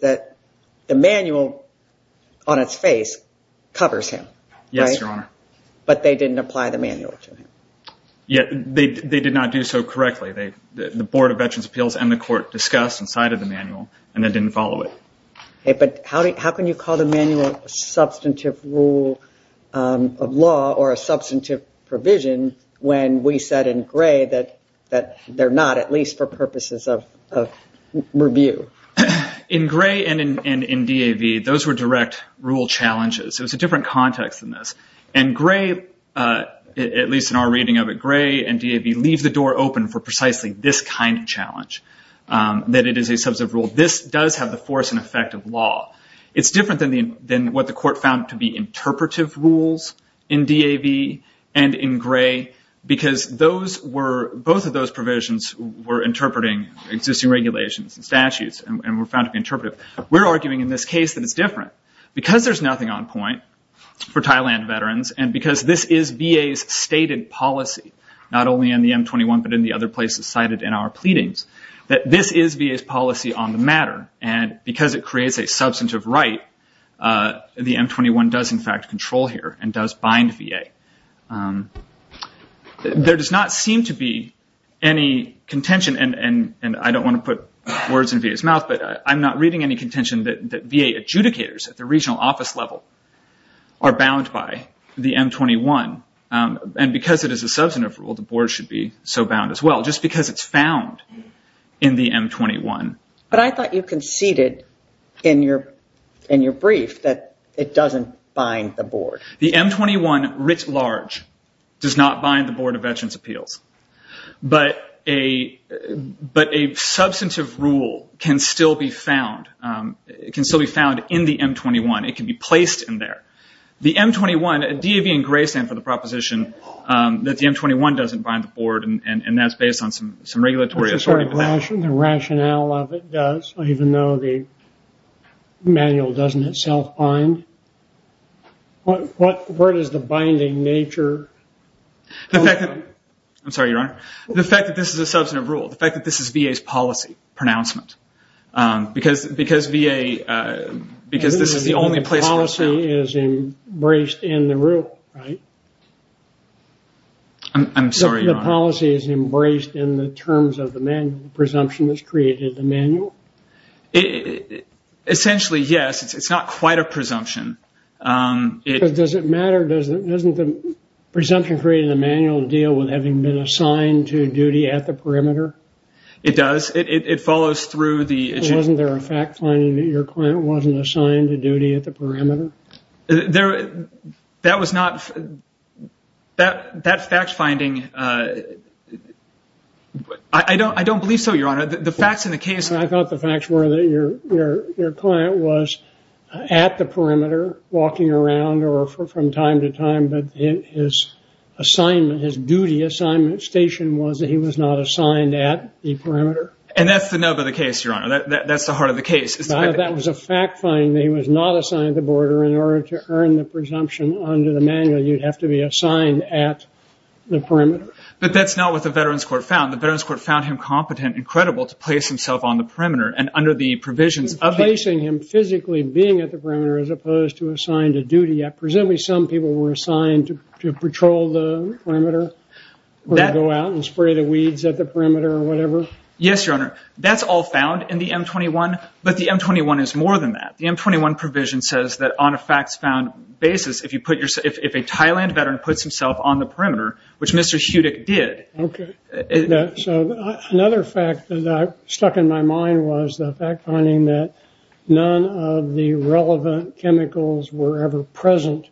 that the manual on its face covers him. Yes, Your Honor. But they didn't apply the manual to him. Yeah, they did not do so correctly. The Board of Veterans' Appeals and the court discussed inside of the manual and they didn't follow it. But how can you call the manual a substantive rule of law or a substantive provision when we said in Gray that they're not, at least for purposes of review? In Gray and in DAV, those were direct rule challenges. So it's a different context than this. And Gray, at least in our reading of it, Gray and DAV leave the door open for precisely this kind of challenge, that it is a substantive rule. This does have the force and effect of law. It's different than what the court found to be interpretive rules in DAV and in Gray, because both of those provisions were interpreting existing regulations and statutes and were found to be interpretive. We're arguing in this case that it's different. Because there's nothing on point for Thailand veterans and because this is VA's stated policy, not only in the M21 but in the other places cited in our pleadings, that this is VA's policy on the matter. And because it creates a substantive right, the M21 does in fact control here and does bind VA. There does not seem to be any contention, and I don't want to put words in VA's mouth, but I'm not reading any contention that VA adjudicators at the regional office level are bound by the M21. And because it is a substantive rule, the board should be so bound as well, just because it's found in the M21. But I thought you conceded in your brief that it doesn't bind the board. The M21 writ large does not bind the Board of Veterans' Appeals. But a substantive rule can still be found in the M21. It can be placed in there. The M21, DAV and Gray stand for the proposition that the M21 doesn't bind the board, and that's based on some regulatory authority. The rationale of it does, even though the manual doesn't itself bind, what is the binding nature? I'm sorry, Your Honor. The fact that this is a substantive rule, the fact that this is VA's policy pronouncement, because this is the only place where it's found. The policy is embraced in the rule, right? I'm sorry, Your Honor. The policy is embraced in the terms of the manual, the presumption that's created in the manual? Essentially, yes. It's not quite a presumption. Does it matter? Doesn't the presumption created in the manual deal with having been assigned to duty at the perimeter? It does. It follows through the... Wasn't there a fact finding that your client wasn't assigned to duty at the perimeter? That was not... That fact finding... I don't believe so, Your Honor. The facts in the case... I thought the facts were that your client was at the perimeter walking around or from time to time, but his assignment, his duty assignment station was that he was not assigned at the perimeter. And that's the nub of the case, Your Honor. That's the heart of the case. That was a fact finding that he was not assigned to the border. In order to earn the presumption under the manual, you'd have to be assigned at the perimeter. But that's not what the Veterans Court found. The Veterans Court found him competent and under the provisions of... Placing him physically being at the perimeter as opposed to assigned to duty. Presumably, some people were assigned to patrol the perimeter or go out and spray the weeds at the perimeter or whatever. Yes, Your Honor. That's all found in the M-21, but the M-21 is more than that. The M-21 provision says that on a facts found basis, if a Thailand veteran puts himself on the perimeter, which Mr. Hudick did... Another fact that stuck in my mind was the fact finding that none of the relevant chemicals were ever present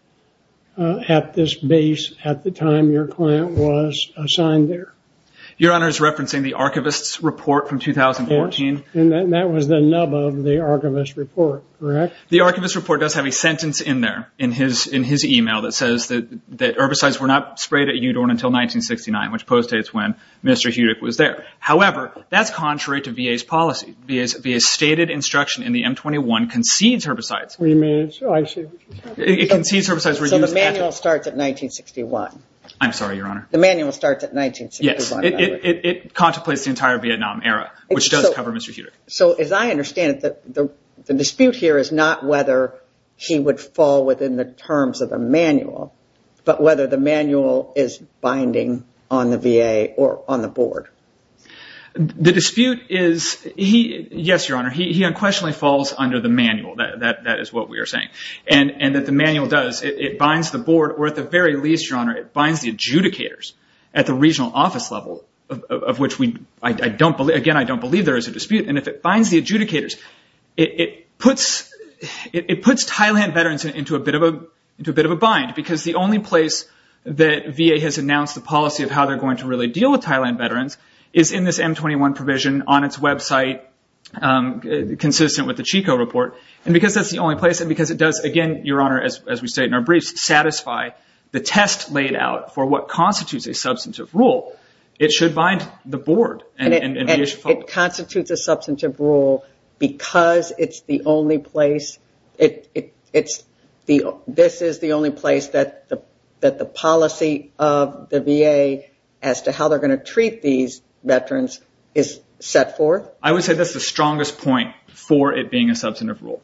at this base at the time your client was assigned there. Your Honor is referencing the archivist's report from 2014. And that was the nub of the archivist's report, correct? The archivist's report does have a sentence in there in his email that says that herbicides were not sprayed at Udorn until 1969, which postdates when Mr. Hudick was there. However, that's contrary to VA's policy. VA's stated instruction in the M-21 concedes herbicides. Remains, I see. It concedes herbicides were used... So the manual starts at 1961. I'm sorry, Your Honor. The manual starts at 1961. Yes, it contemplates the entire Vietnam era, which does cover Mr. Hudick. So as I understand it, the dispute here is not whether he would fall within the terms of the is binding on the VA or on the board. The dispute is... Yes, Your Honor. He unquestionably falls under the manual. That is what we are saying. And that the manual does, it binds the board or at the very least, Your Honor, it binds the adjudicators at the regional office level, of which I don't believe. Again, I don't believe there is a dispute. And if it binds the adjudicators, it puts Thailand veterans into a bit of a bind. Because the only place that VA has announced the policy of how they're going to really deal with Thailand veterans is in this M-21 provision on its website, consistent with the Chico report. And because that's the only place, and because it does, again, Your Honor, as we say in our briefs, satisfy the test laid out for what constitutes a substantive rule, it should bind the board. And it constitutes a substantive rule because it's the only place... It's the... This is the only place that the policy of the VA as to how they're going to treat these veterans is set forth? I would say that's the strongest point for it being a substantive rule.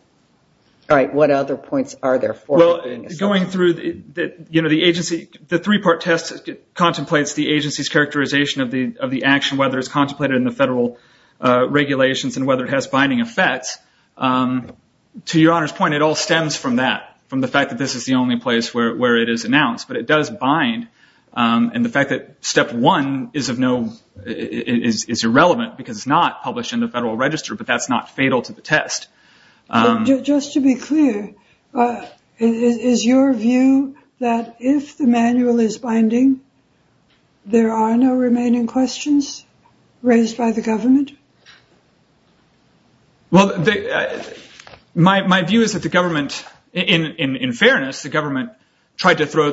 All right. What other points are there for it being a substantive rule? Well, going through the agency... The three-part test contemplates the agency's characterization of the action, whether it's contemplated in the federal regulations and whether it has binding effects. To Your Honor's point, it all stems from that. From the fact that this is the only place where it is announced. But it does bind. And the fact that step one is irrelevant because it's not published in the federal register, but that's not fatal to the test. Just to be clear, is your view that if the manual is binding, there are no remaining questions raised by the government? Well, my view is that the government... In fairness, the government tried to throw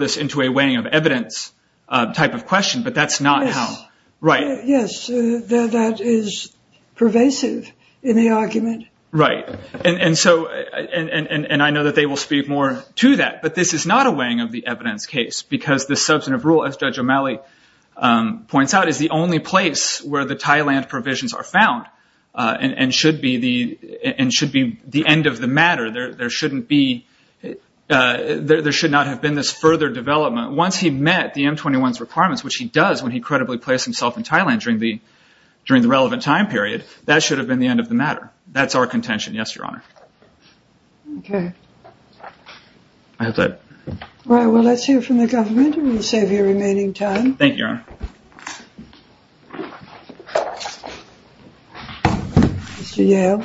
this into a weighing of evidence type of question, but that's not how... Yes. Right. Yes. That is pervasive in the argument. Right. And I know that they will speak more to that, but this is not a weighing of the evidence case because the substantive rule, as Judge O'Malley points out, is the only place where the Thailand provisions are found and should be the end of the matter. There should not have been this further development. Once he met the M21's requirements, which he does when he credibly placed himself in Thailand during the relevant time period, that should have been the end of the matter. That's our contention. Yes, Your Honor. Okay. I have that. All right. Thank you, Your Honor. Mr. Yale?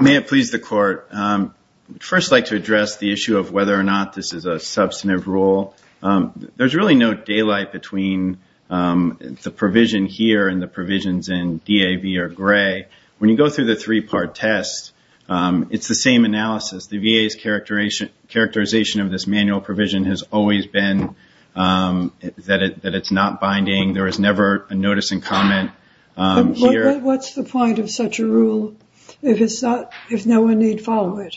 May it please the court. First, I'd like to address the issue of whether or not this is a substantive rule. There's really no daylight between the provision here and the provisions in DAV or Gray. When you go through the three-part test, it's the same analysis. The VA's characterization of this manual provision has always been that it's not binding. There is never a notice and comment here. What's the point of such a rule if no one need follow it?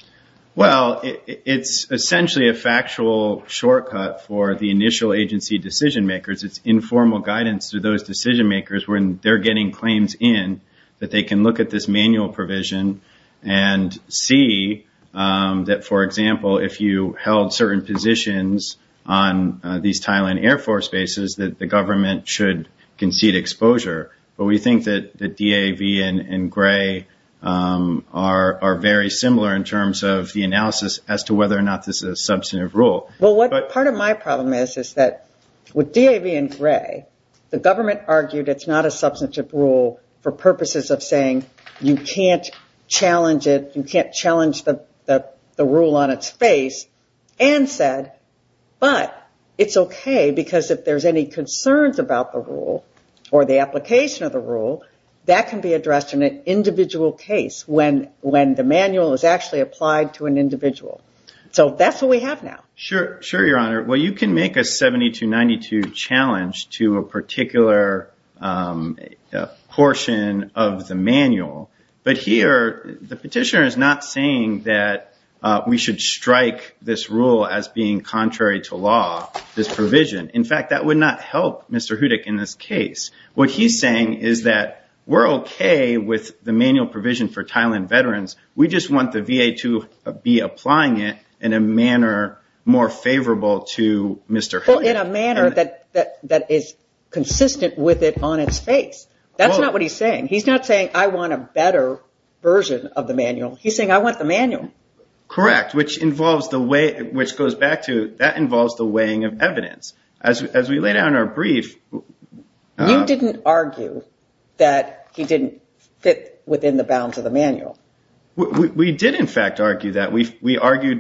Well, it's essentially a factual shortcut for the initial agency decision makers. It's informal guidance to those decision makers when they're getting claims in that they can look at this manual provision and see that, for example, if you held certain positions on these Thailand Air Force bases, that the government should concede exposure. But we think that the DAV and Gray are very similar in terms of the analysis as to whether or not this is a substantive rule. Well, part of my problem is that with DAV and Gray, the government argued it's not a You can't challenge it. You can't challenge the rule on its face and said, but it's okay because if there's any concerns about the rule or the application of the rule, that can be addressed in an individual case when the manual is actually applied to an individual. That's what we have now. Sure, Your Honor. Well, you can make a 7292 challenge to a particular portion of the manual. But here, the petitioner is not saying that we should strike this rule as being contrary to law, this provision. In fact, that would not help Mr. Hudik in this case. What he's saying is that we're okay with the manual provision for Thailand veterans. We just want the VA to be applying it in a manner more favorable to Mr. Hudik. Well, in a manner that is consistent with it on its face. That's not what he's saying. He's not saying, I want a better version of the manual. He's saying, I want the manual. Correct, which involves the way, which goes back to that involves the weighing of evidence. As we laid out in our brief. We did, in fact, argue that we argued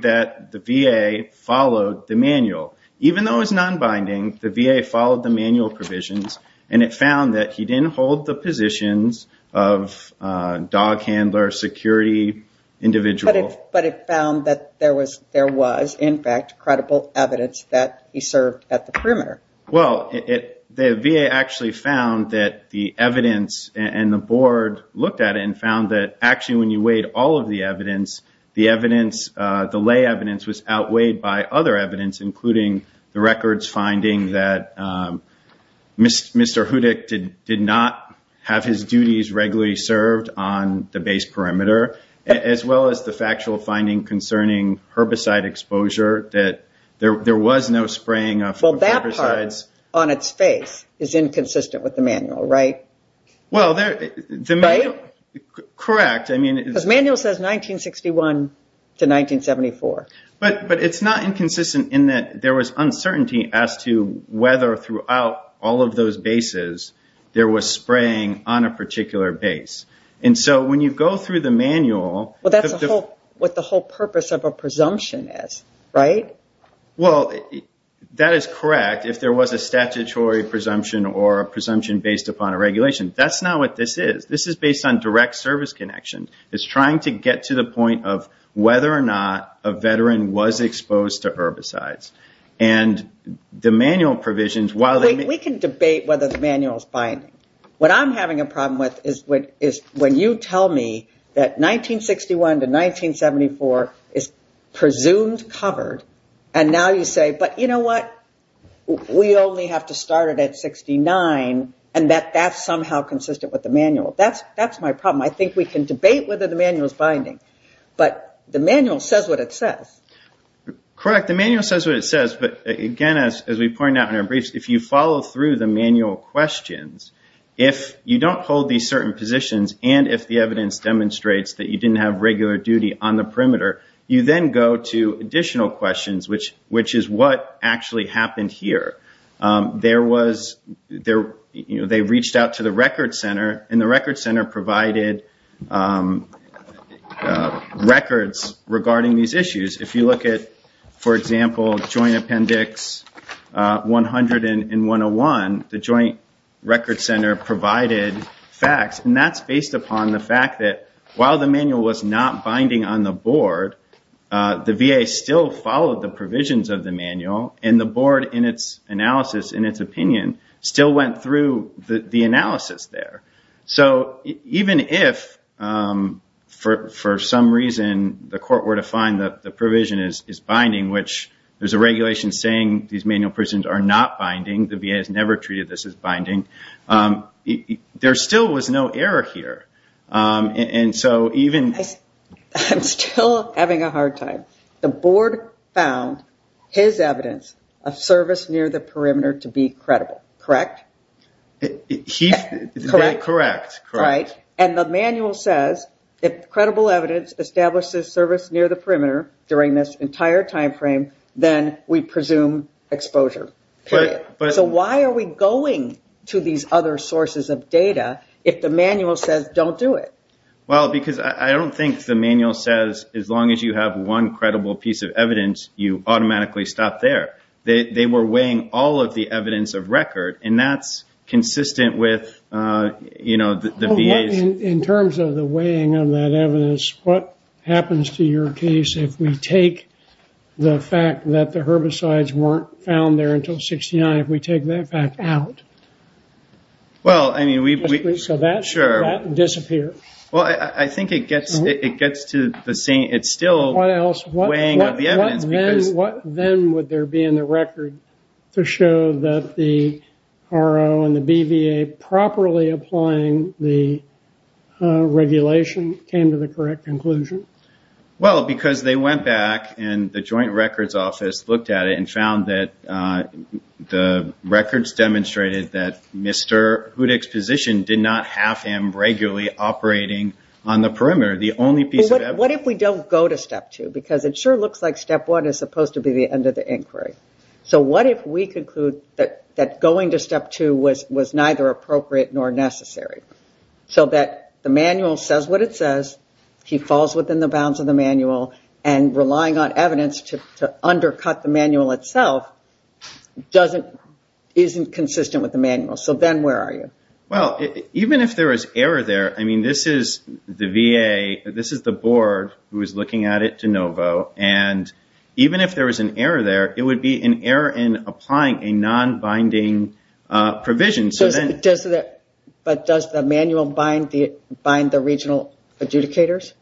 that the VA followed the manual. Even though it's non-binding, the VA followed the manual provisions and it found that he didn't hold the positions of a dog handler, security individual. But it found that there was, in fact, credible evidence that he served at the perimeter. Well, the VA actually found that the evidence and the board looked at it and found that actually when you weighed all of the evidence, the evidence, the lay evidence was outweighed by other evidence, including the records finding that Mr. Hudik did not have his duties regularly served on the base perimeter, as well as the factual finding concerning herbicide exposure, that there was no spraying of herbicides. Well, that part on its face is inconsistent with the manual, right? Well, correct. The manual says 1961 to 1974. But it's not inconsistent in that there was uncertainty as to whether throughout all of those bases there was spraying on a particular base. When you go through the manual- Well, that's what the whole purpose of a presumption is, right? Well, that is correct. If there was a statutory presumption or a presumption based upon a regulation. That's not what this is. This is based on direct service connection. It's trying to get to the point of whether or not a veteran was exposed to herbicides. And the manual provisions, while- We can debate whether the manual is binding. What I'm having a problem with is when you tell me that 1961 to 1974 is presumed covered, and now you say, but you know what? We only have to start it at 1969 and that that's somehow consistent with the manual. That's my problem. I think we can debate whether the manual is binding. But the manual says what it says. Correct. The manual says what it says. But again, as we pointed out in our briefs, if you follow through the manual questions, if you don't hold these certain positions and if the evidence demonstrates that you which is what actually happened here. There was- They reached out to the record center and the record center provided records regarding these issues. If you look at, for example, Joint Appendix 100 and 101, the Joint Record Center provided facts and that's based upon the fact that while the manual was not binding on the board, the VA still followed the provisions of the manual and the board in its analysis, in its opinion, still went through the analysis there. So even if for some reason, the court were to find that the provision is binding, which there's a regulation saying these manual prisons are not binding. The VA has never treated this as binding. There still was no error here. And so even- I'm still having a hard time. The board found his evidence of service near the perimeter to be credible, correct? He's- Correct. Right. And the manual says if credible evidence establishes service near the perimeter during this entire timeframe, then we presume exposure. So why are we going to these other sources of data if the manual says don't do it? Well, because I don't think the manual says, as long as you have one credible piece of evidence, you automatically stop there. They were weighing all of the evidence of record and that's consistent with the VA's- In terms of the weighing of that evidence, what happens to your case if we take the fact that the herbicides weren't found there until 69, if we take that fact out? Well, I mean, we- So that should not disappear. Well, I think it gets to the same- It's still weighing of the evidence because- What then would there be in the record to show that the RO and the BVA properly applying the regulation came to the correct conclusion? Well, because they went back and the joint records office looked at it and found that the records demonstrated that Mr. Hudick's position did not have him regularly operating on the perimeter, the only piece of evidence- What if we don't go to step two? Because it sure looks like step one is supposed to be the end of the inquiry. So what if we conclude that going to step two was neither appropriate nor necessary? So that the manual says what it says, he falls within the bounds of the manual, and relying on evidence to undercut the manual itself isn't consistent with the manual. So then where are you? Well, even if there is error there, I mean, this is the VA, this is the board who is looking at it de novo. And even if there was an error there, it would be an error in applying a non-binding provision. But does the manual bind the regional adjudicators?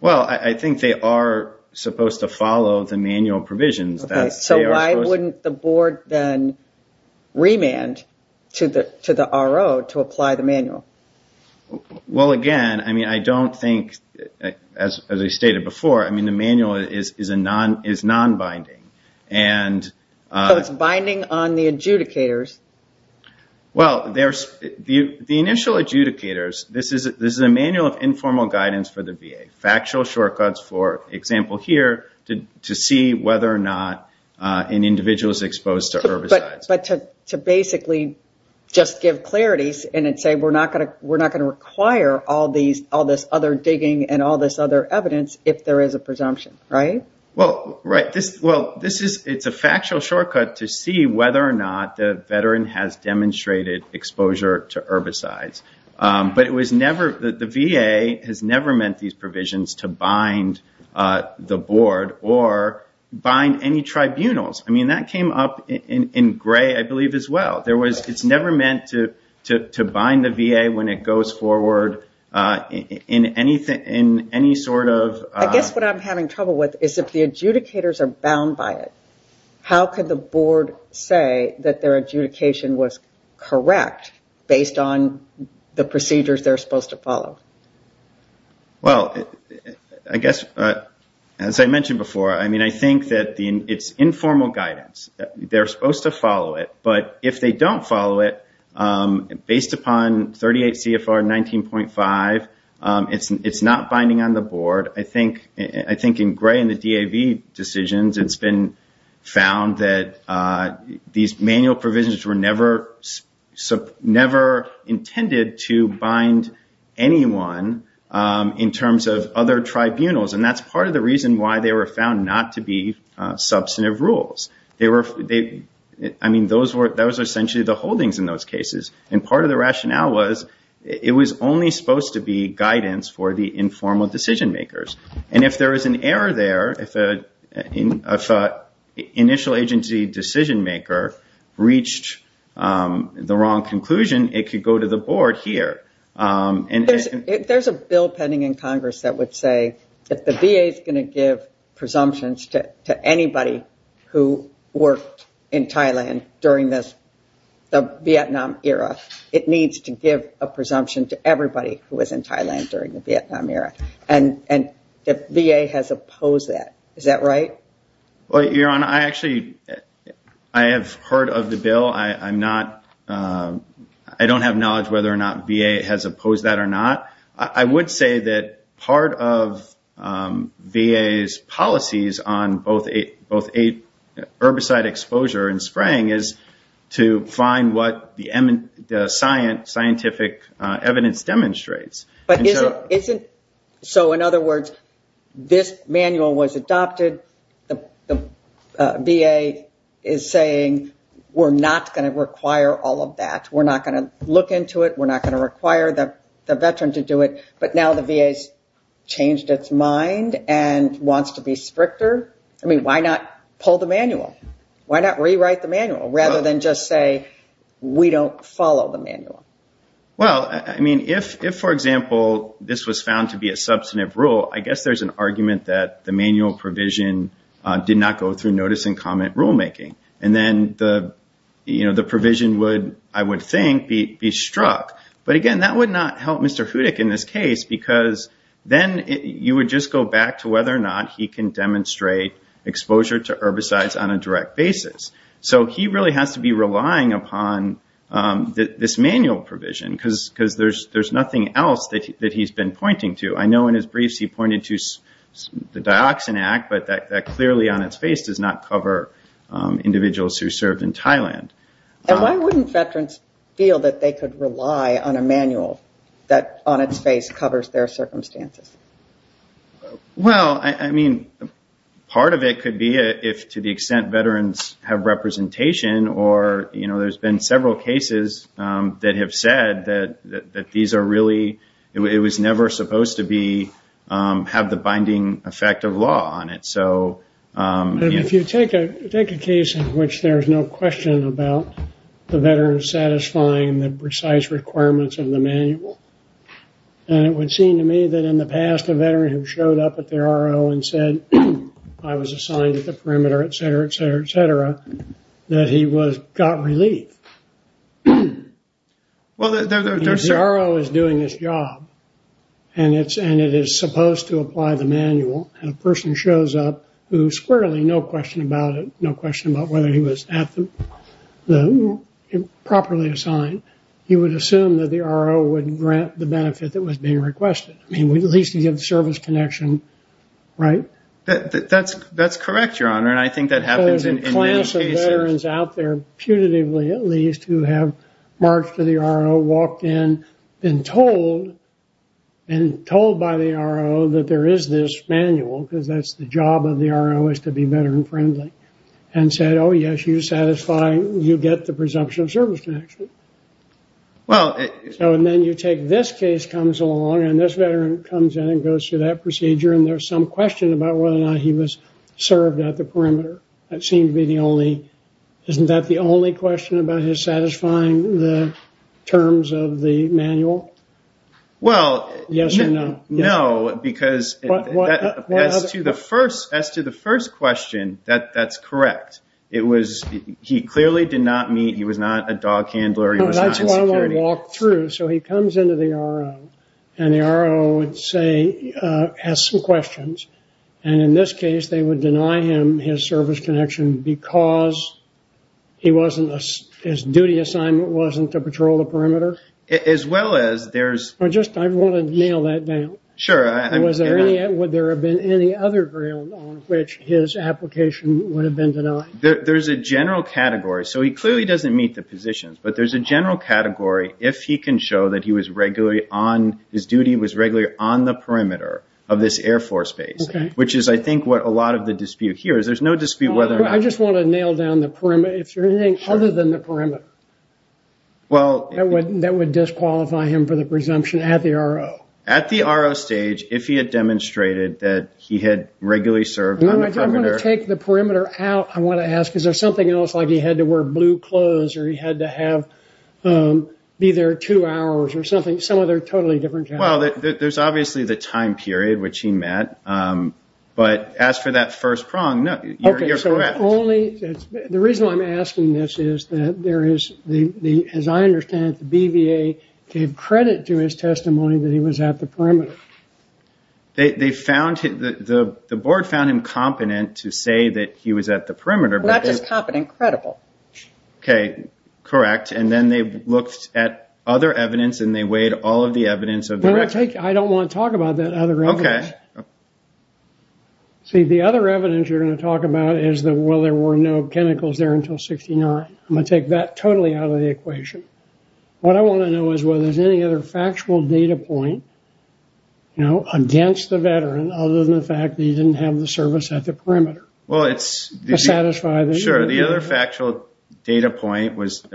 Well, I think they are supposed to follow the manual provisions. Okay. So why wouldn't the board then remand to the RO to apply the manual? Well, again, I mean, I don't think, as I stated before, I mean, the manual is non-binding. So it's binding on the adjudicators? Well, the initial adjudicators, this is a manual of informal guidance for the VA, factual shortcuts, for example, here to see whether or not an individual is exposed to herbicides. But to basically just give clarities and then say, we're not going to require all this other digging and all this other evidence if there is a presumption, right? Well, right. Well, this is, it's a factual shortcut to see whether or not the veteran has demonstrated exposure to herbicides. But it was never, the VA has never meant these provisions to bind the board or bind any tribunals. I mean, that came up in Gray, I believe, as well. There was, it's never meant to bind the VA when it goes forward in any sort of... If the adjudicators are bound by it, how could the board say that their adjudication was correct based on the procedures they're supposed to follow? Well, I guess, as I mentioned before, I mean, I think that it's informal guidance. They're supposed to follow it. But if they don't follow it, based upon 38 CFR 19.5, it's not binding on the board. I think in Gray and the DAV decisions, it's been found that these manual provisions were never intended to bind anyone in terms of other tribunals. And that's part of the reason why they were found not to be substantive rules. They were, I mean, those were essentially the holdings in those cases. And part of the rationale was it was only supposed to be guidance for the informal decision makers. And if there is an error there, if an initial agency decision maker reached the wrong conclusion, it could go to the board here. There's a bill pending in Congress that would say that the VA is going to give presumptions to anybody who worked in Thailand during the Vietnam era. It needs to give a presumption to everybody who was in Thailand during the Vietnam era. And the VA has opposed that. Is that right? Well, Your Honor, I actually, I have heard of the bill. I'm not, I don't have knowledge whether or not VA has opposed that or not. I would say that part of VA's policies on both herbicide exposure and spraying is to find what the scientific evidence demonstrates. But isn't, so in other words, this manual was adopted, the VA is saying, we're not going to require all of that. We're not going to look into it. We're not going to and wants to be stricter. I mean, why not pull the manual? Why not rewrite the manual rather than just say, we don't follow the manual? Well, I mean, if for example, this was found to be a substantive rule, I guess there's an argument that the manual provision did not go through notice and comment rulemaking. And then the provision would, I would think, be struck. But again, that would not help in this case, because then you would just go back to whether or not he can demonstrate exposure to herbicides on a direct basis. So he really has to be relying upon this manual provision because there's nothing else that he's been pointing to. I know in his briefs, he pointed to the Dioxin Act, but that clearly on its face does not cover individuals who served in Thailand. And why wouldn't veterans feel that they could rely on a manual that on its face covers their circumstances? Well, I mean, part of it could be if to the extent veterans have representation or, you know, there's been several cases that have said that these are really, it was never supposed to be, have the binding effect of law on it. So if you take a take a case in which there's no question about the veterans satisfying the precise requirements of the manual, and it would seem to me that in the past, a veteran who showed up at the RO and said, I was assigned at the perimeter, et cetera, et cetera, et cetera, that he was got relief. Well, the RO is doing this job, and it's, and it is supposed to apply the manual, and a person shows up who squarely no question about it, no question about whether he was the, properly assigned, he would assume that the RO would grant the benefit that was being requested. I mean, at least he had the service connection, right? That's correct, Your Honor, and I think that happens in many cases. There's a class of veterans out there, putatively at least, who have marched to the RO, walked in, been told, been told by the RO that there is this manual, because that's the job of the RO is to be veteran friendly, and said, oh, yes, you satisfy, you get the presumption of service connection. Well, and then you take this case comes along, and this veteran comes in and goes through that procedure, and there's some question about whether or not he was served at the perimeter. That seemed to be the only, isn't that the only question about his satisfying the terms of the manual? Well, no, because as to the first, as to the first question, that's correct. It was, he clearly did not meet, he was not a dog handler. No, that's why I walked through, so he comes into the RO, and the RO would say, has some questions, and in this case, they would deny him his service connection because he wasn't, his duty assignment wasn't to patrol the perimeter. As well as, there's. I just, I want to nail that down. Sure. Was there any, would there have been any other ground on which his application would have been denied? There's a general category, so he clearly doesn't meet the positions, but there's a general category if he can show that he was regularly on, his duty was regularly on the perimeter of this Air Force base. Okay. Which is, I think, what a lot of the dispute here is, there's no dispute whether or not. I just want to nail down the perimeter, if there's anything other than the perimeter. Well. That would disqualify him for the presumption at the RO. At the RO stage, if he had demonstrated that he had regularly served on the perimeter. I'm going to take the perimeter out, I want to ask, is there something else, like he had to wear blue clothes, or he had to have, be there two hours, or something, some other totally different category? Well, there's obviously the time period which he met, but as for that first prong, no, you're correct. Only, the reason why I'm asking this is that there is, as I understand it, the BVA gave credit to his testimony that he was at the perimeter. They found him, the board found him competent to say that he was at the perimeter. Not just competent, credible. Okay, correct. And then they looked at other evidence, and they weighed all of the evidence. I don't want to talk about that other evidence. Okay. See, the other evidence you're going to talk about is that, well, there were no chemicals there until 69. I'm going to take that totally out of the equation. What I want to know is whether there's any other factual data point against the veteran, other than the fact that he didn't have the service at the perimeter. Well, it's... Sure. The other factual data point was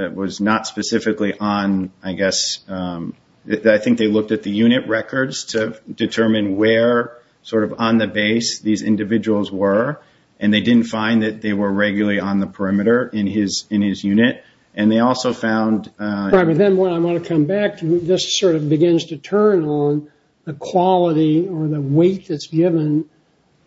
not specifically on, I guess, I think they looked at the unit records to determine where, sort of, on the base these individuals were. And they didn't find that they were regularly on the perimeter in his unit. And they also found... But then what I want to come back to, this sort of begins to turn on the quality or the weight that's given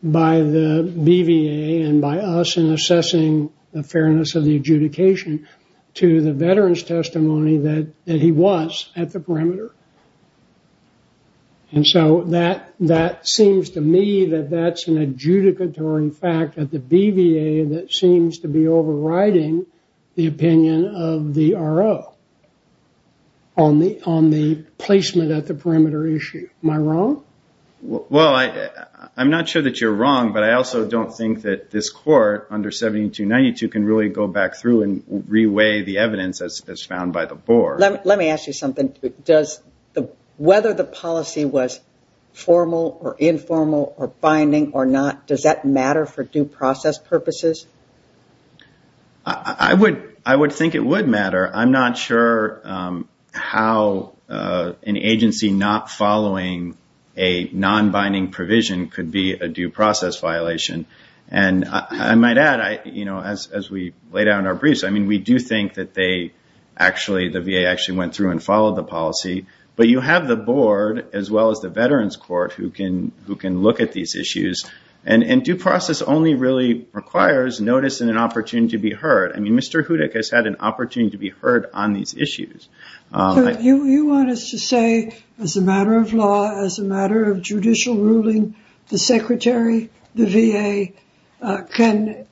by the BVA and by us in assessing the fairness of the adjudication to the veteran's testimony that he was at the perimeter. And so that seems to me that that's an adjudicatory fact at the BVA that seems to be overriding the opinion of the RO. On the placement at the perimeter issue. Am I wrong? Well, I'm not sure that you're wrong, but I also don't think that this court under 7292 can really go back through and reweigh the evidence as found by the board. Let me ask you something. Whether the policy was formal or informal or binding or not, does that matter for due process purposes? I would think it would matter. I'm not sure how an agency not following a non-binding provision could be a due process violation. And I might add, as we laid out in our briefs, I mean, we do think that they actually, the VA actually went through and followed the policy. But you have the board as well as the veterans court who can look at these issues. And due process only really requires notice and an opportunity to be heard. Mr. Hudick has had an opportunity to be heard on these issues. You want us to say as a matter of law, as a matter of judicial ruling, the secretary, the VA can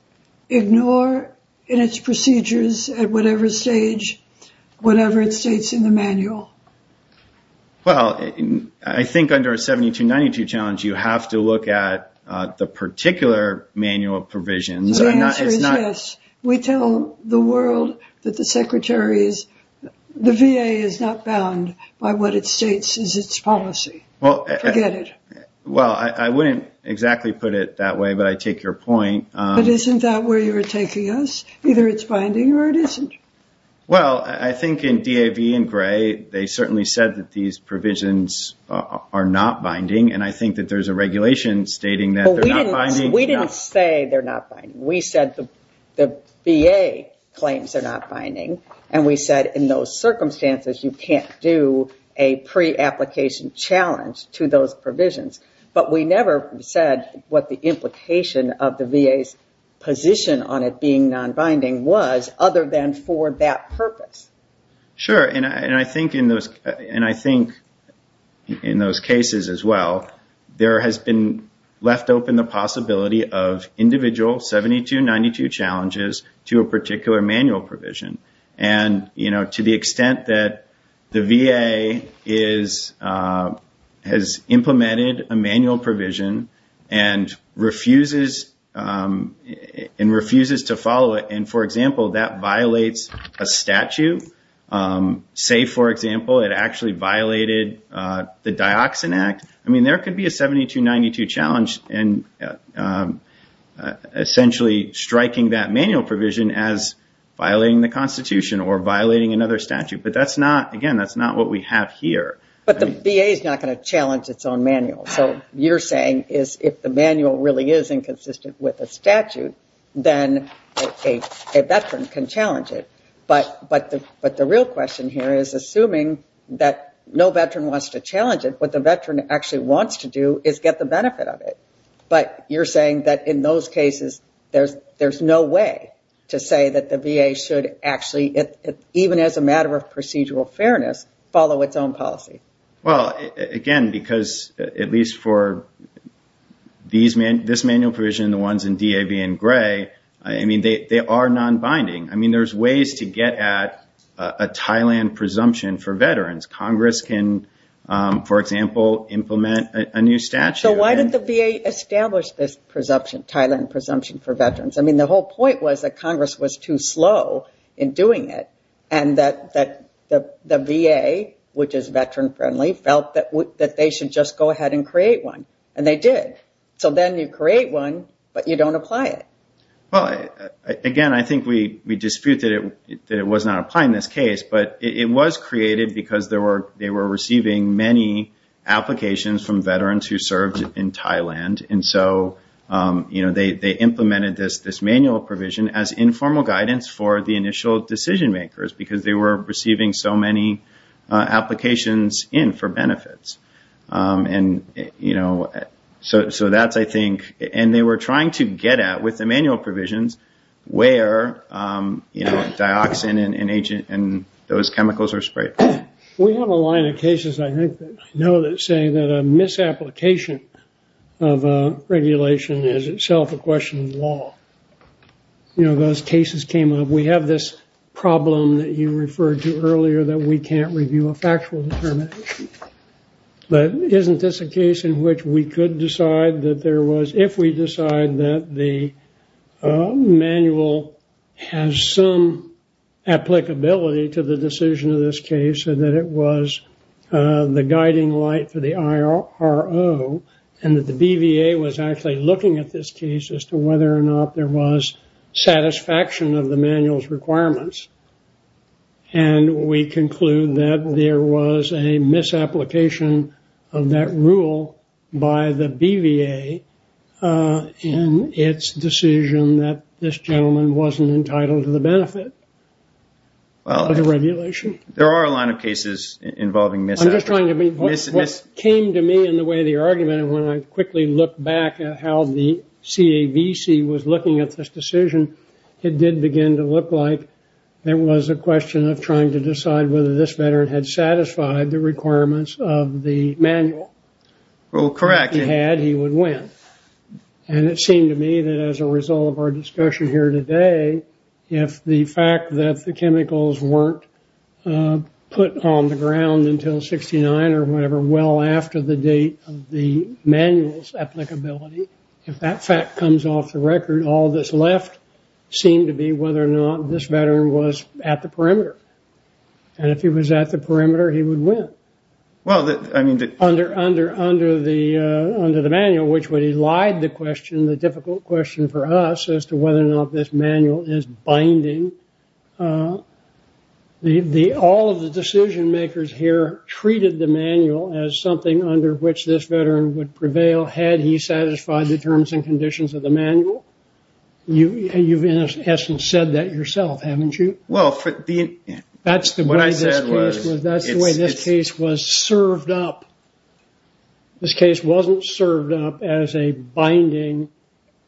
ignore in its procedures at whatever stage, whatever it states in the manual. Well, I think under a 7292 challenge, you have to look at the particular manual provisions. The answer is yes. We tell the world that the secretary is, the VA is not bound by what it states is its policy. Forget it. Well, I wouldn't exactly put it that way, but I take your point. But isn't that where you were taking us? Either it's binding or it isn't. Well, I think in DAV and Gray, they certainly said that these provisions are not binding. And I think that there's a regulation stating that they're not binding. We didn't say they're not binding. We said the VA claims they're not binding. And we said in those circumstances, you can't do a pre-application challenge to those provisions. But we never said what the implication of the VA's position on it being non-binding was other than for that purpose. Sure. And I think in those cases as well, there has been left open the possibility of individual 7292 challenges to a particular manual provision. And to the extent that the VA is, has implemented a manual provision and refuses to follow it. And for example, that violates a statute. Say, for example, it actually violated the Dioxin Act. I mean, there could be a 7292 challenge. And essentially striking that manual provision as violating the constitution or violating another statute. But that's not, again, that's not what we have here. But the VA is not going to challenge its own manual. So you're saying is if the manual really is inconsistent with a statute, then a veteran can challenge it. But the real question here is assuming that no veteran wants to challenge it, the veteran actually wants to do is get the benefit of it. But you're saying that in those cases, there's no way to say that the VA should actually, even as a matter of procedural fairness, follow its own policy. Well, again, because at least for this manual provision, the ones in DAV and Gray, I mean, they are non-binding. I mean, there's ways to get at a Thailand presumption for veterans. Congress can, for example, implement a new statute. So why did the VA establish this presumption, Thailand presumption for veterans? I mean, the whole point was that Congress was too slow in doing it. And that the VA, which is veteran friendly, felt that they should just go ahead and create one. And they did. So then you create one, but you don't apply it. Well, again, I think we dispute that it was not applying this case. But it was created because they were receiving many applications from veterans who served in Thailand. And so they implemented this manual provision as informal guidance for the initial decision makers because they were receiving so many applications in for benefits. And so that's, I think, and they were trying to get at with the manual provisions, where, you know, dioxin and those chemicals are sprayed. We have a line of cases, I think, that I know that say that a misapplication of a regulation is itself a question of law. You know, those cases came up. We have this problem that you referred to earlier that we can't review a factual determination. But isn't this a case in which we could decide that there was, if we decide that the manual has some applicability to the decision of this case and that it was the guiding light for the IRO and that the BVA was actually looking at this case as to whether or not there was satisfaction of the manual's requirements. And we conclude that there was a misapplication of that rule by the BVA in its decision that this gentleman wasn't entitled to the benefit of the regulation. Well, there are a line of cases involving misapplication. I'm just trying to be, what came to me in the way of the argument, and when I quickly look back at how the CAVC was looking at this decision, it did begin to look like there was a question of trying to decide whether this veteran had satisfied the requirements of the manual. Well, correct. If he had, he would win. And it seemed to me that as a result of our discussion here today, if the fact that the chemicals weren't put on the ground until 69 or whatever well after the date of the manual's applicability, if that fact comes off the record, all that's left seem to be whether or not this veteran was at the perimeter. And if he was at the perimeter, he would win. Under the manual, which would elide the question, the difficult question for us as to whether or not this manual is binding, all of the decision makers here treated the manual as something under which this veteran would prevail had he satisfied the terms and conditions of the manual. You've in essence said that yourself, haven't you? Well, that's the way this case was served up. This case wasn't served up as a binding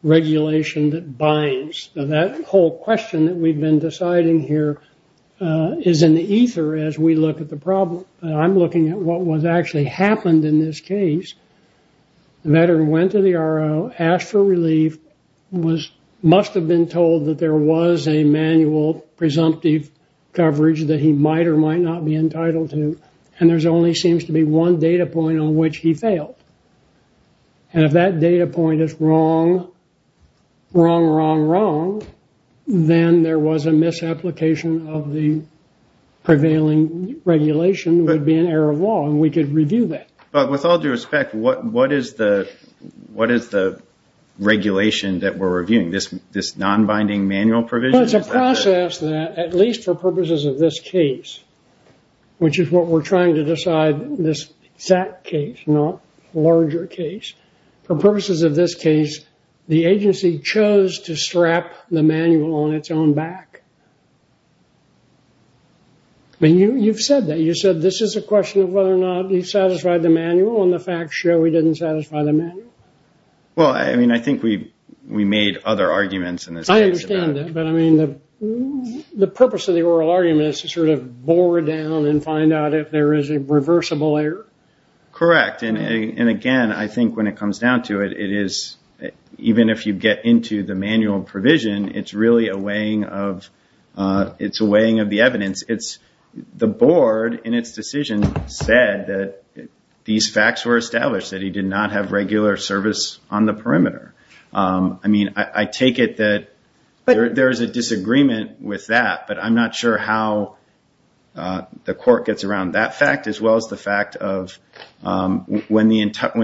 regulation that binds. That whole question that we've been deciding here is in the ether as we look at the problem. I'm looking at what was actually happened in this case. The veteran went to the RO, asked for relief, must have been told that there was a manual presumptive coverage that he might or might not be entitled to. And there only seems to be one data point on which he failed. And if that data point is wrong, wrong, wrong, wrong, then there was a misapplication of the prevailing regulation would be an error of law and we could review that. But with all due respect, what is the regulation that we're reviewing? This non-binding manual provision? It's a process that at least for purposes of this case, which is what we're trying to decide this exact case, not larger case. For purposes of this case, the agency chose to strap the manual on its own back. You've said that. You said this is a question of whether or not he satisfied the manual and the facts show he didn't satisfy the manual. Well, I mean, I think we made other arguments in this case. But I mean, the purpose of the oral argument is to sort of bore down and find out if there is a reversible error. Correct. And again, I think when it comes down to it, it is even if you get into the manual provision, it's really a weighing of the evidence. The board in its decision said that these facts were established that he did not have regular service on the perimeter. I mean, I take it that there is a disagreement with that. But I'm not sure how the court gets around that fact as well as the fact of when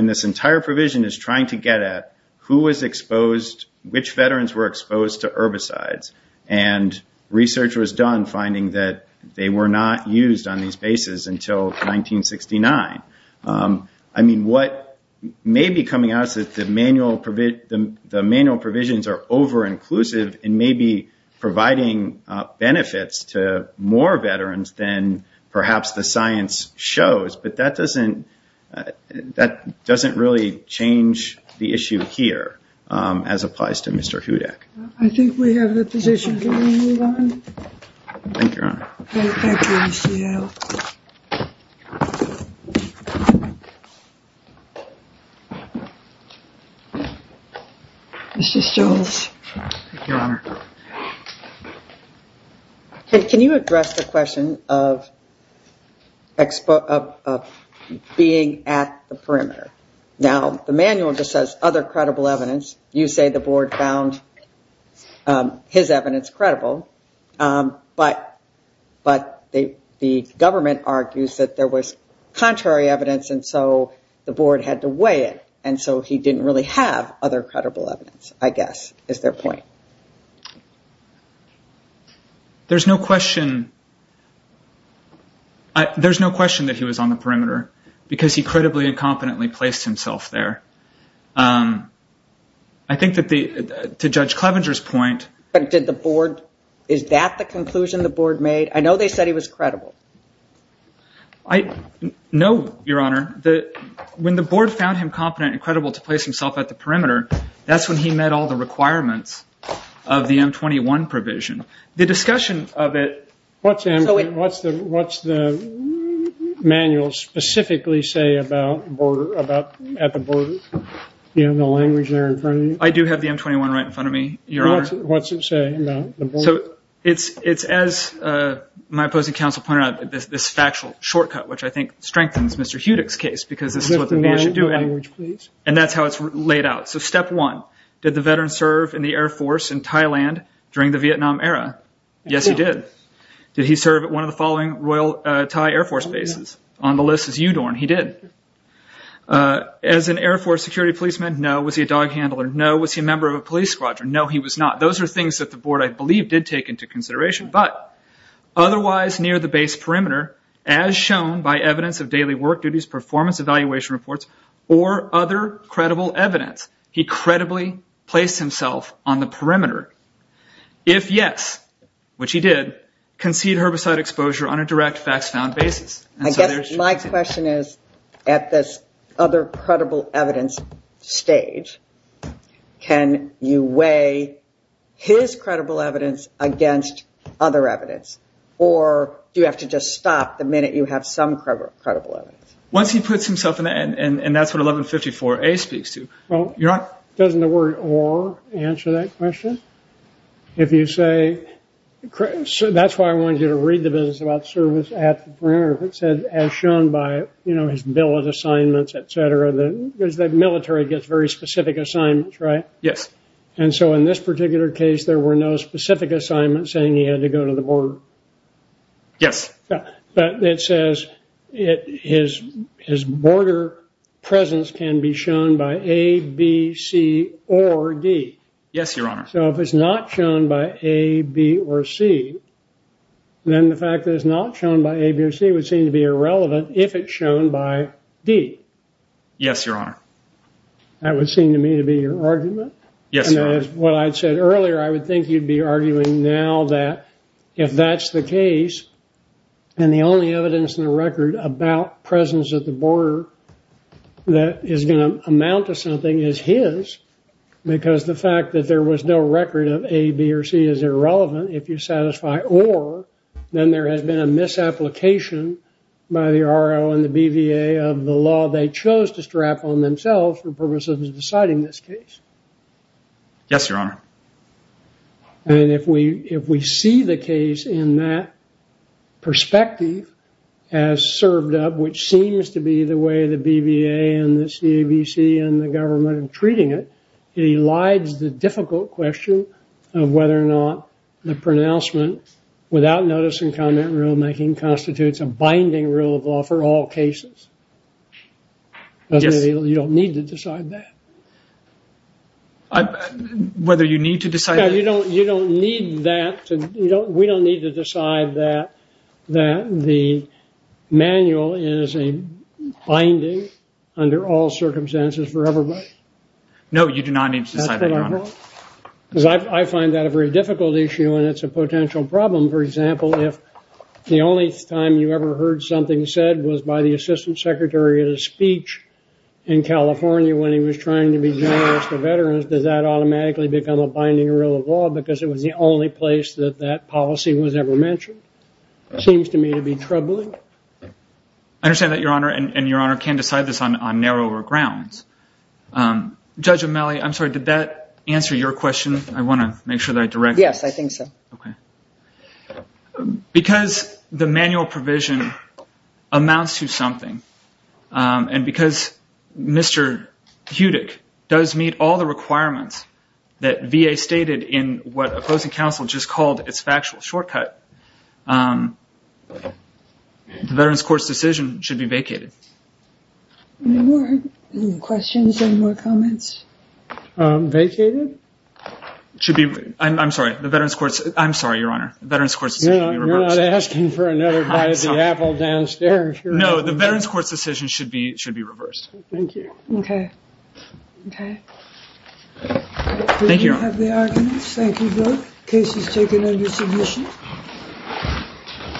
this entire provision is trying to get at who was exposed, which veterans were exposed to herbicides and research was done finding that they were not used on these bases until 1969. I mean, what may be coming out is that the manual provisions are over-inclusive and may be providing benefits to more veterans than perhaps the science shows. But that doesn't really change the issue here as applies to Mr. Hudak. I think we have the position. Thank you, Your Honor. Thank you. Mrs. Jones. Your Honor. Can you address the question of being at the perimeter? Now, the manual just says other credible evidence. You say the board found his evidence credible, but the government argues that there was contrary evidence, and so the board had to weigh it. And so he didn't really have other credible evidence, I guess, is their point. There's no question that he was on the perimeter because he credibly and competently placed himself there. I think that to Judge Clevenger's point... But did the board... Is that the conclusion the board made? I know they said he was credible. I know, Your Honor, that when the board found him competent and credible to place himself at the perimeter, that's when he met all the requirements of the M-21 provision. The discussion of it... What's the manual specifically say about at the border? You have the language there in front of you? I do have the M-21 right in front of me, Your Honor. What's it say about the border? It's as my opposing counsel pointed out, this factual shortcut, which I think strengthens Mr. Hudick's case because this is what the man should do, and that's how it's laid out. So step one, did the veteran serve in the Air Force in Thailand during the Vietnam era? Yes, he did. Did he serve at one of the following Royal Thai Air Force bases? On the list is Udorn. He did. As an Air Force security policeman, no. Was he a dog handler? No. Was he a member of a police squadron? No, he was not. Those are things that the board, I believe, did take into consideration, but otherwise near the base perimeter, as shown by evidence of daily work duties, performance evaluation reports, or other credible evidence, he credibly placed himself on the perimeter. If yes, which he did, concede herbicide exposure on a direct facts found basis. My question is, at this other credible evidence stage, can you weigh his credible evidence against other evidence? Or do you have to just stop the minute you have some credible evidence? Once he puts himself in the end, and that's what 1154A speaks to. Well, doesn't the word or answer that question? If you say, that's why I wanted you to read the business about service at the perimeter. It said, as shown by his bill of assignments, et cetera, because the military gets very specific assignments, right? Yes. And so in this particular case, there were no specific assignments saying he had to go to the border. Yes. But it says his border presence can be shown by A, B, C, or D. Yes, Your Honor. So if it's not shown by A, B, or C, then the fact that it's not shown by A, B, or C would seem to be irrelevant if it's shown by D. Yes, Your Honor. That would seem to me to be your argument? Yes, Your Honor. What I said earlier, I would think you'd be arguing now that if that's the case, and the only evidence in the record about presence at the border that is going to amount to something is his, because the fact that there was no record of A, B, or C is irrelevant if you satisfy or then there has been a misapplication by the RO and the BVA of the law they chose to strap on themselves for purposes of deciding this case. Yes, Your Honor. And if we see the case in that perspective as served up, which seems to be the way the court is treating it, it elides the difficult question of whether or not the pronouncement without notice and comment rulemaking constitutes a binding rule of law for all cases. Yes. You don't need to decide that. Whether you need to decide that? No, you don't need that. We don't need to decide that the manual is a binding under all circumstances for everybody. No, you do not need to decide that, Your Honor. Because I find that a very difficult issue, and it's a potential problem. For example, if the only time you ever heard something said was by the assistant secretary at a speech in California when he was trying to be generous to veterans, does that automatically become a binding rule of law because it was the only place that that policy was ever mentioned? It seems to me to be troubling. I understand that, Your Honor, and Your Honor can decide this on narrower grounds. Judge O'Malley, I'm sorry. Did that answer your question? I want to make sure that I direct. Yes, I think so. Okay. Because the manual provision amounts to something, and because Mr. Hudick does meet all the requirements that VA stated in what opposing counsel just called its factual shortcut, the Veterans Court's decision should be vacated. Any more questions? Any more comments? Vacated? Should be. I'm sorry. The Veterans Court's. I'm sorry, Your Honor. The Veterans Court's decision should be reversed. You're not asking for another bite of the apple downstairs. No, the Veterans Court's decision should be reversed. Thank you. Okay. Okay. Thank you. Thank you both. Case is taken under submission.